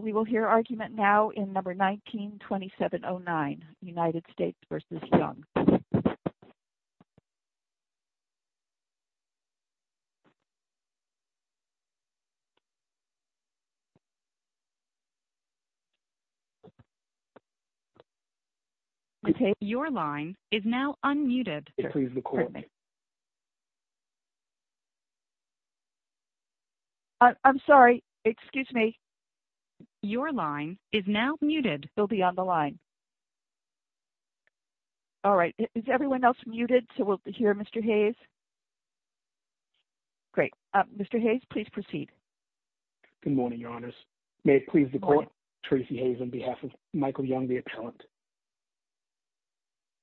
We will hear argument now in No. 192709, United States v. Young. Your line is now unmuted. I'm sorry. Excuse me. Your line is now muted. You'll be on the line. All right. Is everyone else muted? So we'll hear Mr. Hayes. Great. Mr. Hayes, please proceed. Good morning, your honors. May it please the court. Tracy Hayes on behalf of Michael Young, the appellant.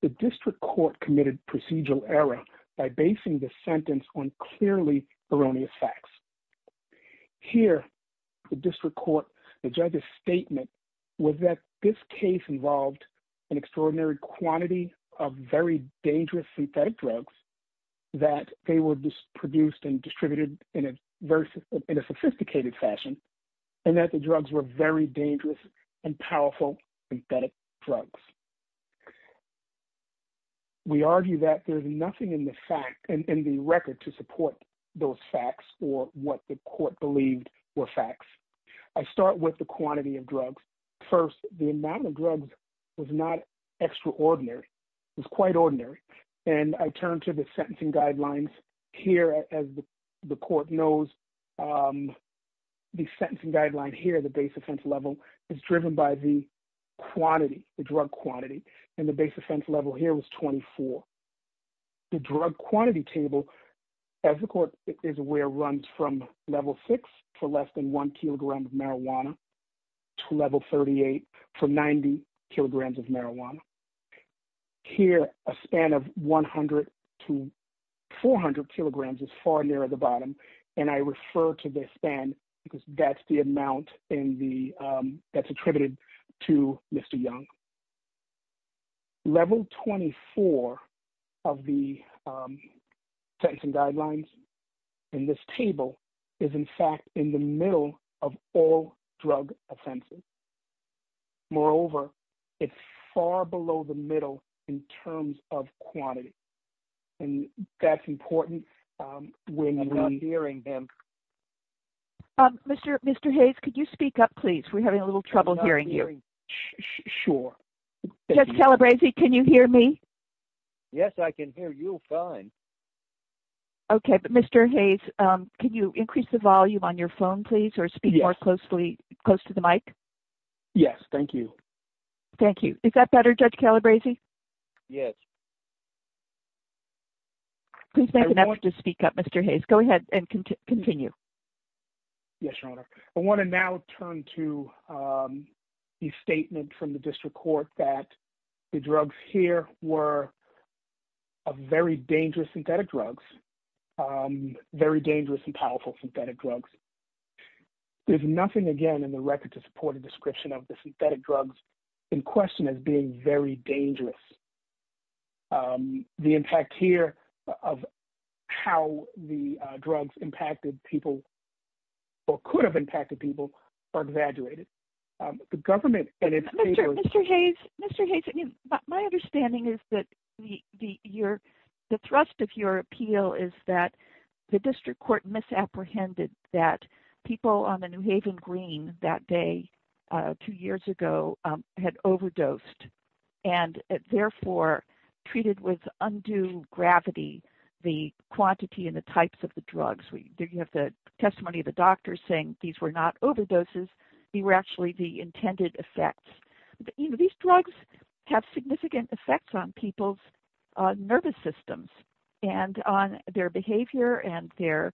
The district court committed procedural error by basing the sentence on clearly erroneous facts. Here, the district court, the judge's statement was that this case involved an extraordinary quantity of very dangerous synthetic drugs. That they were produced and distributed in a sophisticated fashion and that the drugs were very dangerous and powerful synthetic drugs. We argue that there's nothing in the record to support those facts or what the court believed were facts. I start with the quantity of drugs. First, the amount of drugs was not extraordinary. It was quite ordinary. And I turn to the sentencing guidelines here as the court knows. The sentencing guideline here, the base offense level, is driven by the quantity, the drug quantity, and the base offense level here was 24. The drug quantity table, as the court is aware, runs from level six for less than one kilogram of marijuana to level 38 for 90 kilograms of marijuana. Here, a span of 100 to 400 kilograms is far nearer the bottom, and I refer to the span because that's the amount that's attributed to Mr. Young. Level 24 of the sentencing guidelines in this table is in fact in the middle of all drug offenses. Moreover, it's far below the middle in terms of quantity, and that's important when you're not hearing them. Mr. Hayes, could you speak up, please? We're having a little trouble hearing you. Sure. Judge Calabresi, can you hear me? Yes, I can hear you fine. Okay, but Mr. Hayes, can you increase the volume on your phone, please, or speak more closely close to the mic? Yes, thank you. Thank you. Is that better, Judge Calabresi? Yes. Please make an effort to speak up, Mr. Hayes. Go ahead and continue. Yes, Your Honor. I want to now turn to the statement from the district court that the drugs here were very dangerous synthetic drugs, very dangerous and powerful synthetic drugs. There's nothing, again, in the record to support a description of the synthetic drugs in question as being very dangerous. The impact here of how the drugs impacted people or could have impacted people are exaggerated. Mr. Hayes, my understanding is that the thrust of your appeal is that the district court misapprehended that people on the New Haven Green that day two years ago had overdosed. And, therefore, treated with undue gravity the quantity and the types of the drugs. You have the testimony of the doctors saying these were not overdoses. These were actually the intended effects. These drugs have significant effects on people's nervous systems and on their behavior and their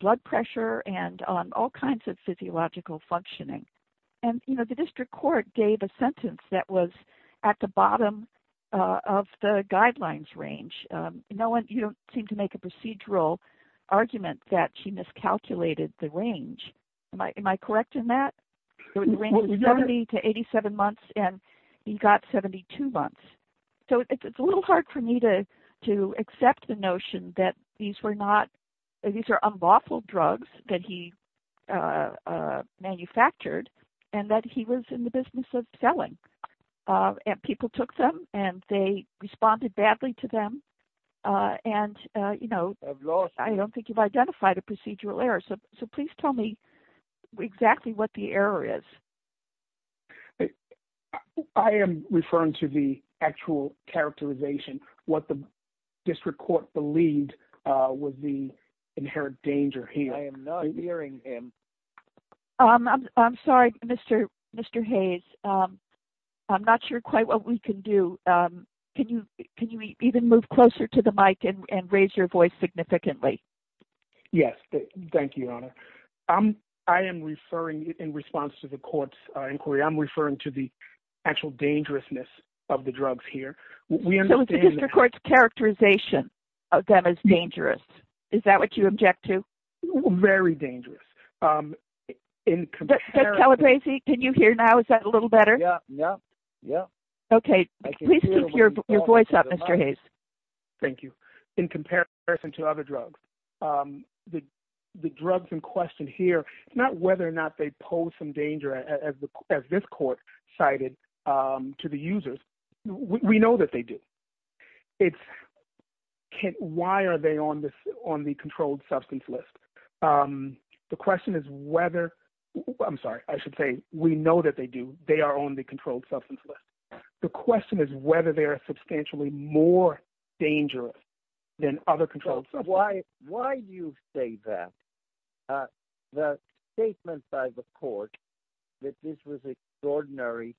blood pressure and on all kinds of physiological functioning. The district court gave a sentence that was at the bottom of the guidelines range. You don't seem to make a procedural argument that she miscalculated the range. Am I correct in that? The range was 70 to 87 months and he got 72 months. It's a little hard for me to accept the notion that these are unlawful drugs that he manufactured and that he was in the business of selling. People took them and they responded badly to them. I don't think you've identified a procedural error. Please tell me exactly what the error is. I am referring to the actual characterization, what the district court believed was the inherent danger here. I am not hearing him. I'm sorry, Mr. Hayes. I'm not sure quite what we can do. Can you even move closer to the mic and raise your voice significantly? Yes. Thank you, Your Honor. I am referring in response to the court's inquiry. I'm referring to the actual dangerousness of the drugs here. So it's the district court's characterization of them as dangerous. Is that what you object to? Very dangerous. Mr. Calabresi, can you hear now? Is that a little better? Yes. Okay. Please keep your voice up, Mr. Hayes. Thank you. So, as you can see, in comparison to other drugs, the drugs in question here, it's not whether or not they pose some danger as this court cited to the users. We know that they do. It's why are they on the controlled substance list? The question is whether ‑‑ I'm sorry, I should say we know that they do. They are on the controlled substance list. The question is whether they are substantially more dangerous than other controlled substances. Why do you say that? The statement by the court that this was extraordinary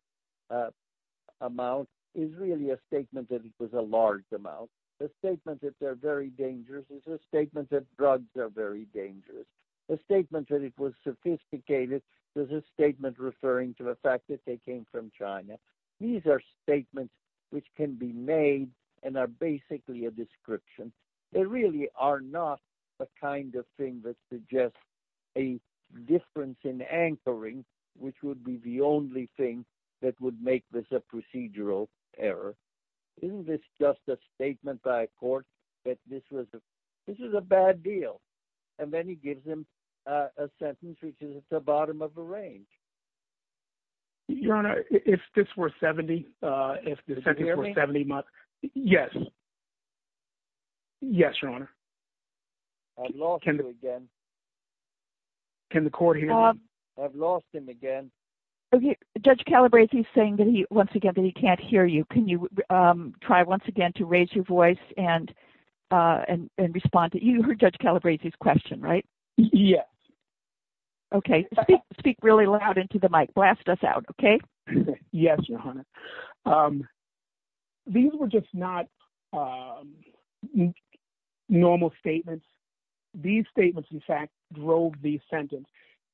amount is really a statement that it was a large amount. The statement that they're very dangerous is a statement that drugs are very dangerous. The statement that it was sophisticated is a statement referring to the fact that they came from China. These are statements which can be made and are basically a description. They really are not the kind of thing that suggests a difference in anchoring, which would be the only thing that would make this a procedural error. Isn't this just a statement by a court that this was a bad deal? And then he gives them a sentence which is at the bottom of the range. Your Honor, if this were 70 months ‑‑ Can you hear me? Yes. Yes, Your Honor. I've lost him again. Can the court hear me? I've lost him again. Judge Calabresi is saying once again that he can't hear you. Can you try once again to raise your voice and respond? You heard Judge Calabresi's question, right? Yes. Okay. Speak really loud into the mic. Blast us out, okay? Yes, Your Honor. These were just not normal statements. These statements, in fact, drove the sentence.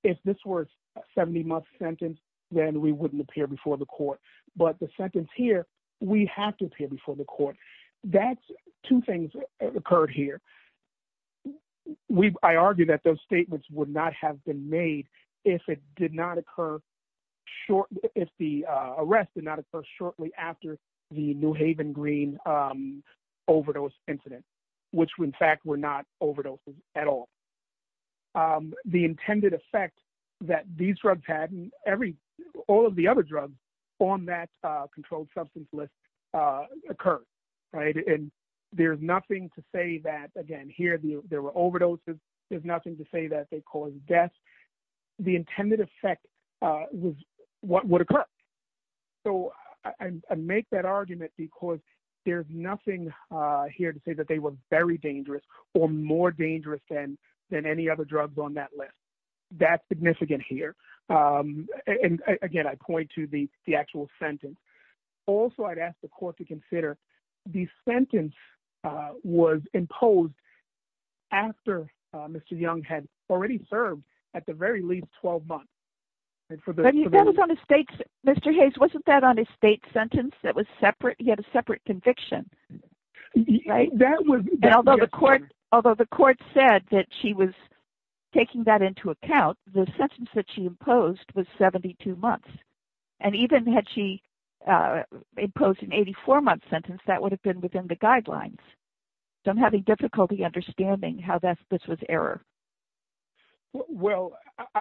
If this were a 70‑month sentence, then we wouldn't appear before the court. But the sentence here, we have to appear before the court. Two things occurred here. I argue that those statements would not have been made if it did not occur shortly ‑‑ if the arrest did not occur shortly after the New Haven Green overdose incident, which, in fact, were not overdoses at all. The intended effect that these drugs had and all of the other drugs on that controlled substance list occurred, right? And there's nothing to say that, again, here there were overdoses. There's nothing to say that they caused deaths. The intended effect was what would occur. So I make that argument because there's nothing here to say that they were very dangerous or more dangerous than any other drugs on that list. That's significant here. And, again, I point to the actual sentence. Also, I'd ask the court to consider the sentence was imposed after Mr. Young had already served at the very least 12 months. That was on a state ‑‑ Mr. Hayes, wasn't that on a state sentence that was separate? He had a separate conviction, right? Although the court said that she was taking that into account, the sentence that she imposed was 72 months. And even had she imposed an 84‑month sentence, that would have been within the guidelines. So I'm having difficulty understanding how this was error. Well,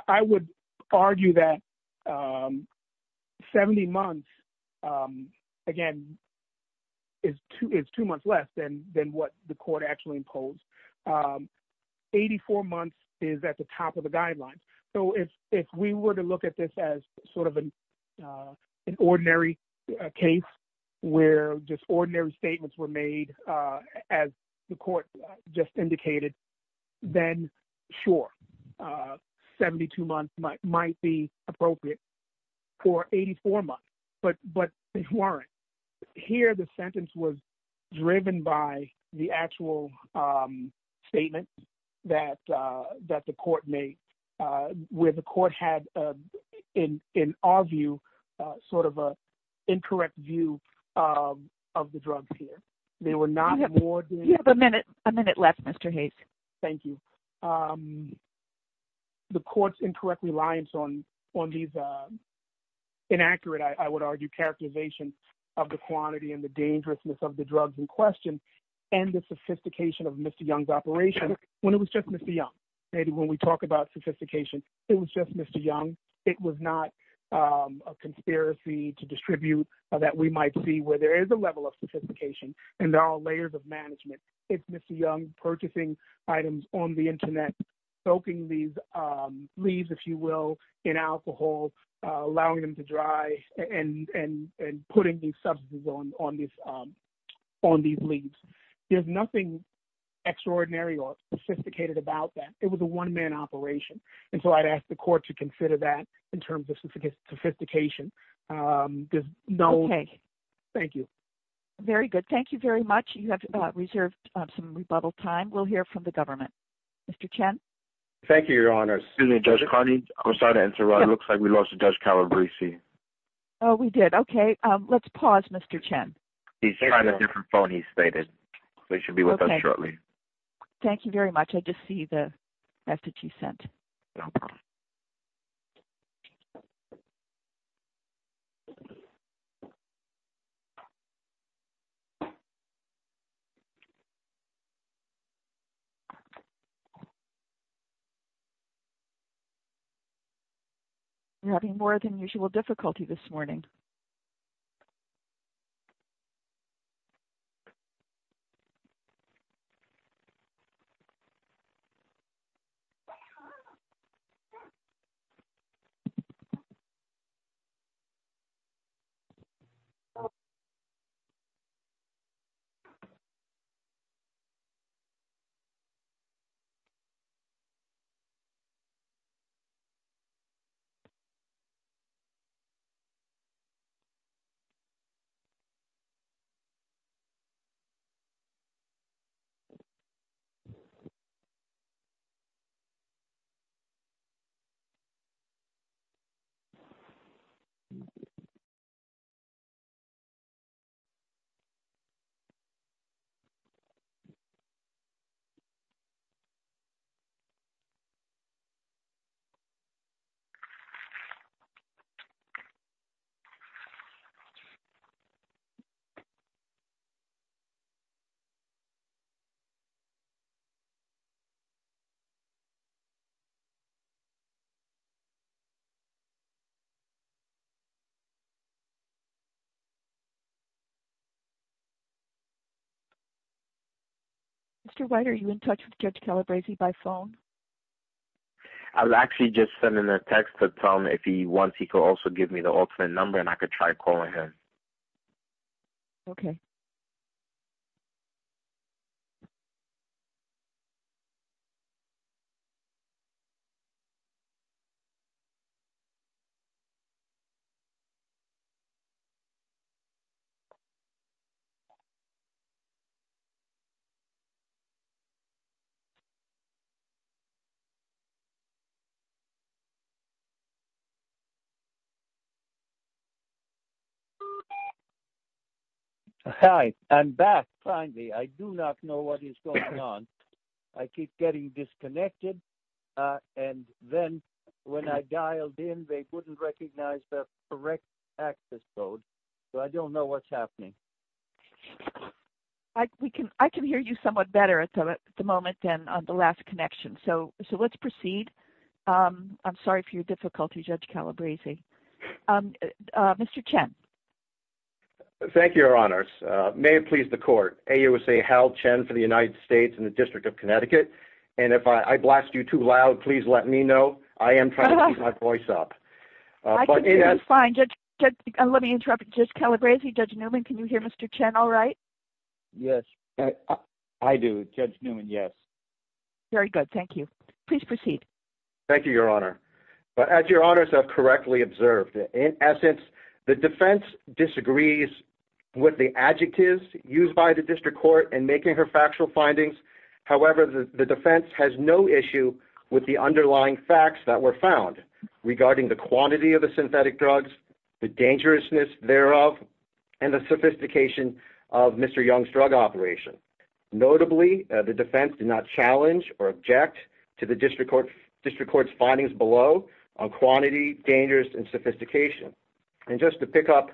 I would argue that 70 months, again, is two months less than what the court actually imposed. Eighty‑four months is at the top of the guidelines. So if we were to look at this as sort of an ordinary case where just ordinary statements were made, as the court just indicated, then, sure, 72 months might be appropriate for 84 months. But they weren't. Here the sentence was driven by the actual statement that the court made where the court had, in our view, sort of an incorrect view of the drugs here. They were not more than ‑‑ You have a minute left, Mr. Hayes. Thank you. The court's incorrect reliance on these inaccurate, I would argue, characterization of the quantity and the dangerousness of the drugs in question and the sophistication of Mr. Young's operation when it was just Mr. Young. Maybe when we talk about sophistication, it was just Mr. Young. It was not a conspiracy to distribute that we might see where there is a level of sophistication and there are layers of management. It's Mr. Young purchasing items on the Internet, soaking these leaves, if you will, in alcohol, allowing them to dry, and putting these substances on these leaves. There's nothing extraordinary or sophisticated about that. It was a one‑man operation. And so I'd ask the court to consider that in terms of sophistication. Okay. Thank you. Very good. Thank you very much. You have reserved some rebuttal time. We'll hear from the government. Mr. Chen? Thank you, Your Honor. Excuse me, Judge Carney. I'm sorry to interrupt. It looks like we lost Judge Calabrese. Oh, we did. Okay. Let's pause, Mr. Chen. He's trying a different phone, he stated, so he should be with us shortly. Okay. Thank you very much. I just see the message you sent. No problem. You're having more than usual difficulty this morning. Thank you. Mr. White, are you in touch with Judge Calabrese by phone? I was actually just sending a text to tell him if he wants he could also give me the alternate number and I could try calling him. Okay. Hi. I'm back, finally. I do not know what is going on. I keep getting disconnected and then when I dialed in, they wouldn't recognize the correct access code, so I don't know what's happening. I can hear you somewhat better at the moment than on the last connection, so let's proceed. I'm sorry for your difficulty, Judge Calabrese. Mr. Chen. Thank you, Your Honors. May it please the court. AUSA Hal Chen for the United States and the District of Connecticut. And if I blast you too loud, please let me know. I am trying to keep my voice up. I can hear you fine. Let me interrupt. Judge Calabrese, Judge Newman, can you hear Mr. Chen all right? Yes, I do. Judge Newman, yes. Very good. Thank you. Please proceed. Thank you, Your Honor. As Your Honors have correctly observed, in essence, the defense disagrees with the adjectives used by the district court in making her factual findings. However, the defense has no issue with the underlying facts that were found regarding the quantity of the synthetic drugs, the dangerousness thereof, and the sophistication of Mr. Young's drug operation. Notably, the defense did not challenge or object to the district court's findings below on quantity, dangerousness, and sophistication. And just to pick up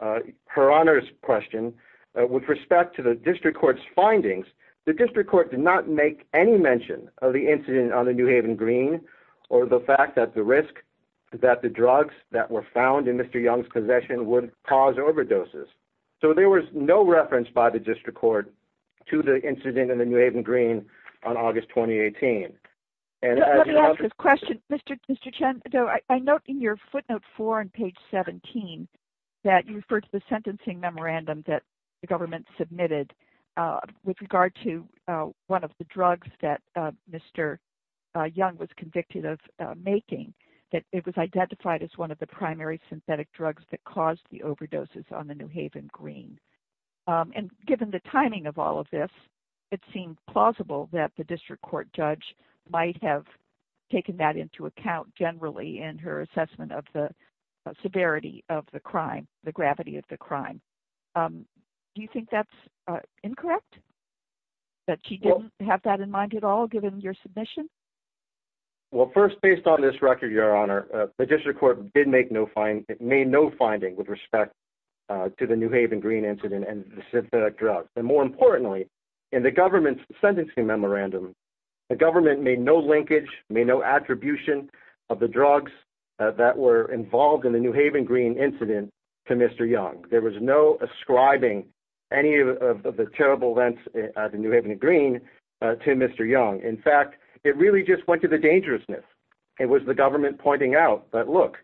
Her Honor's question, with respect to the district court's findings, the district court did not make any mention of the incident on the New Haven Green or the fact that the risk that the drugs that were found in Mr. Young's possession would cause overdoses. So there was no reference by the district court to the incident in the New Haven Green on August 2018. Let me ask this question. Mr. Chen, I note in your footnote four on page 17 that you refer to the sentencing memorandum that the government submitted with regard to one of the drugs that Mr. Young was convicted of making, that it was identified as one of the primary synthetic drugs that was found in the New Haven Green. And given the timing of all of this, it seemed plausible that the district court judge might have taken that into account generally in her assessment of the severity of the crime, the gravity of the crime. Do you think that's incorrect? That she didn't have that in mind at all, given your submission? Well, first, based on this record, Your Honor, the district court did make no findings, made no links to the New Haven Green incident and the synthetic drugs. And more importantly, in the government's sentencing memorandum, the government made no linkage, made no attribution of the drugs that were involved in the New Haven Green incident to Mr. Young. There was no ascribing any of the terrible events at the New Haven Green to Mr. Young. In fact, it really just went to the dangerousness. It was the government pointing out that, look,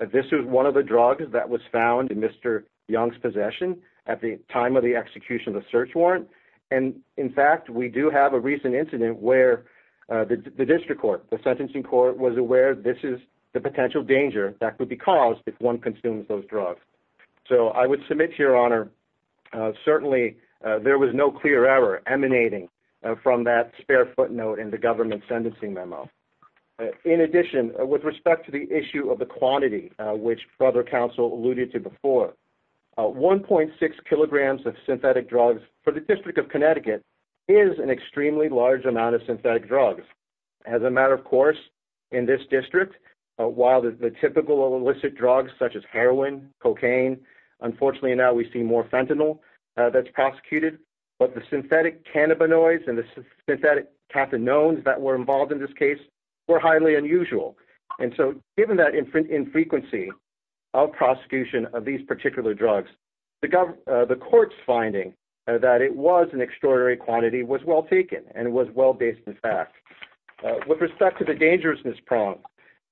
this is one of the drugs that was found in Mr. Young's possession at the time of the execution of the search warrant. And, in fact, we do have a recent incident where the district court, the sentencing court, was aware this is the potential danger that could be caused if one consumes those drugs. So I would submit to Your Honor, certainly there was no clear error emanating from that spare footnote in the government's sentencing memo. In addition, with respect to the issue of the quantity, which Brother Counsel alluded to before, 1.6 kilograms of synthetic drugs for the District of Connecticut is an extremely large amount of synthetic drugs. As a matter of course, in this district, while the typical illicit drugs such as heroin, cocaine, unfortunately now we see more fentanyl that's prosecuted, but the synthetic cannabinoids and the synthetic cathinones that were involved in this case were highly unusual. And so given that infrequency of prosecution of these particular drugs, the court's finding that it was an extraordinary quantity was well taken and it was well based in fact. With respect to the dangerousness problem,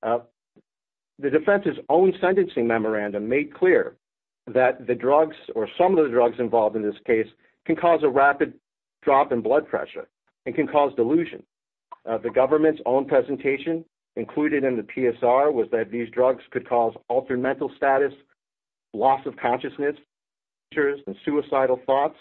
the defense's own sentencing memorandum made clear that the drugs or some of the drugs involved in this case can cause a rapid drop in blood pressure and can cause delusion. The government's own presentation included in the PSR was that these drugs could cause altered mental status, loss of consciousness, seizures, and suicidal thoughts.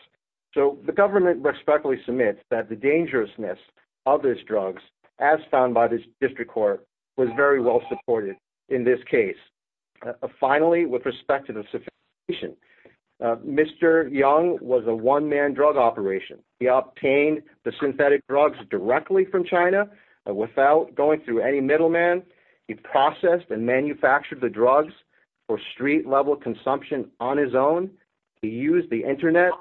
So the government respectfully submits that the dangerousness of these drugs, as found by the district court, was very well supported in this case. Finally, with respect to the sophistication, Mr. Young was a one-man drug operation. He obtained the synthetic drugs directly from China without going through any middleman. He processed and manufactured the drugs for street-level consumption on his own. He used the internet,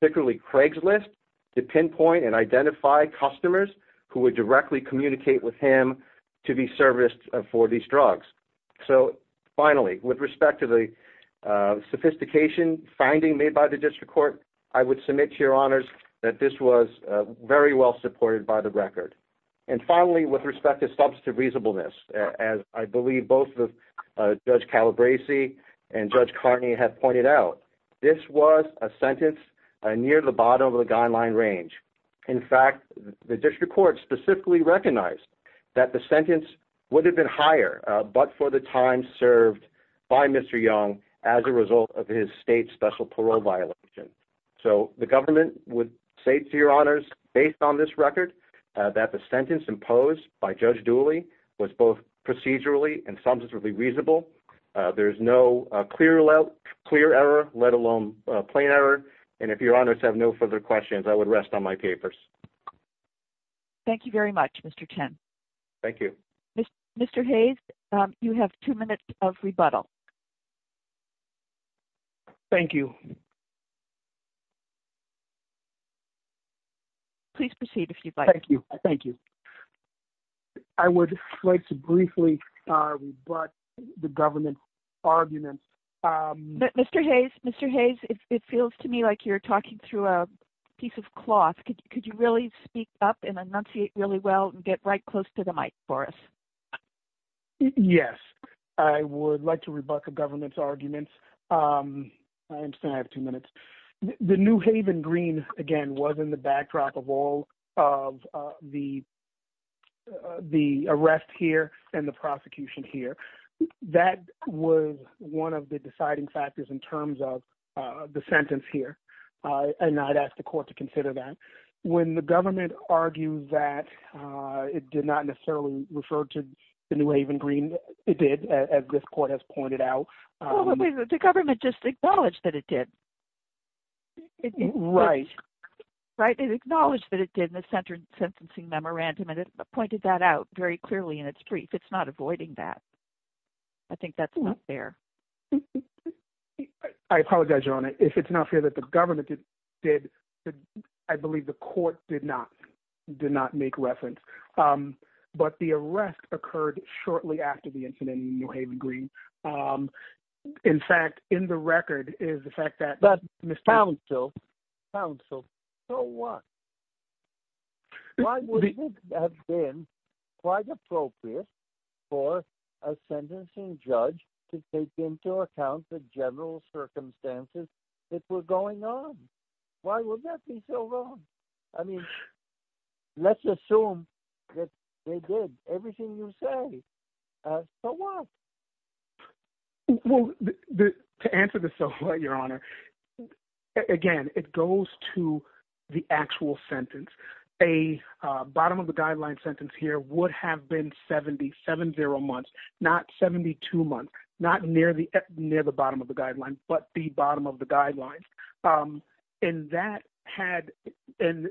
particularly Craigslist, to pinpoint and identify customers who would directly communicate with him to be serviced for these drugs. So finally, with respect to the sophistication finding made by the district court, I would say that this was very well supported by the record. And finally, with respect to substantive reasonableness, as I believe both Judge Calabresi and Judge Carney have pointed out, this was a sentence near the bottom of the guideline range. In fact, the district court specifically recognized that the sentence would have been higher but for the time served by Mr. Young as a result of his state special parole violation. So the government would say to your honors, based on this record, that the sentence imposed by Judge Dooley was both procedurally and substantively reasonable. There is no clear error, let alone plain error. And if your honors have no further questions, I would rest on my papers. Thank you very much, Mr. Chen. Thank you. Mr. Hayes, you have two minutes of rebuttal. Thank you. Please proceed if you'd like. Thank you. I would like to briefly rebut the government's arguments. Mr. Hayes, it feels to me like you're talking through a piece of cloth. Could you really speak up and enunciate really well and get right close to the mic for us? Yes. I would like to rebut the government's arguments. I understand I have two minutes. The New Haven Green, again, was in the backdrop of all of the arrest here and the prosecution here. That was one of the deciding factors in terms of the sentence here, and I'd ask the court to consider that. When the government argued that it did not necessarily refer to the New Haven Green, it did, as this court has pointed out. The government just acknowledged that it did. Right. Right? It acknowledged that it did in the sentencing memorandum, and it pointed that out very clearly in its brief. It's not avoiding that. I think that's not fair. I apologize, Your Honor. If it's not fair that the government did, I believe the court did not make reference. But the arrest occurred shortly after the incident in New Haven Green. In fact, in the record is the fact that Mr. Counsel, so what? Why would it have been quite appropriate for a sentencing judge to take into account the general circumstances that were going on? Why would that be so wrong? I mean, let's assume that they did everything you say. So what? Well, to answer this, Your Honor, again, it goes to the actual sentence. A bottom of the guideline sentence here would have been 70, 7-0 months, not 72 months, not near the bottom of the guideline, but the bottom of the guidelines. And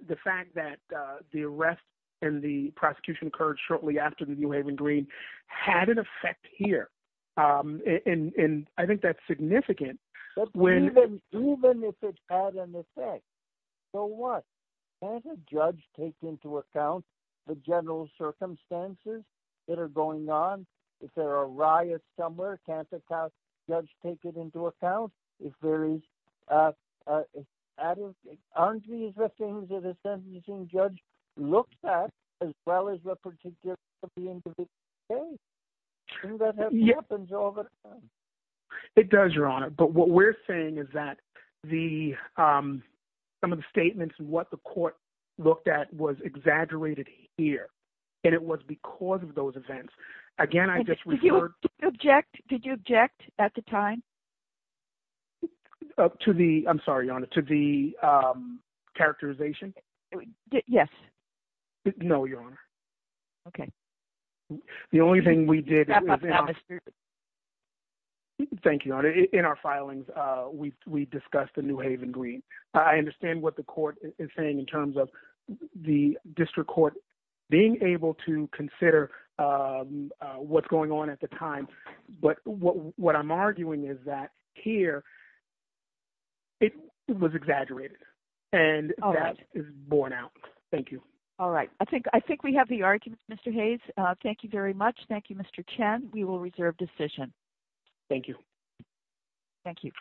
the fact that the arrest and the prosecution occurred shortly after the New Haven Green had an effect here, and I think that's significant. But even if it had an effect, so what? Can't a judge take into account the general circumstances that are going on? If there are riots somewhere, can't a judge take it into account? Aren't these the things that a sentencing judge looks at as well as the particulars of the individual case? Doesn't that happen all the time? It does, Your Honor. But what we're saying is that some of the statements and what the court looked at was exaggerated here, and it was because of those events. Did you object at the time? To the – I'm sorry, Your Honor, to the characterization? Yes. No, Your Honor. Okay. The only thing we did – Thank you, Your Honor. In our filings, we discussed the New Haven Green. I understand what the court is saying in terms of the district court being able to consider what's going on at the time. But what I'm arguing is that here it was exaggerated, and that is borne out. Thank you. All right. I think we have the argument, Mr. Hayes. Thank you very much. Thank you, Mr. Chen. We will reserve decision. Thank you. Thank you.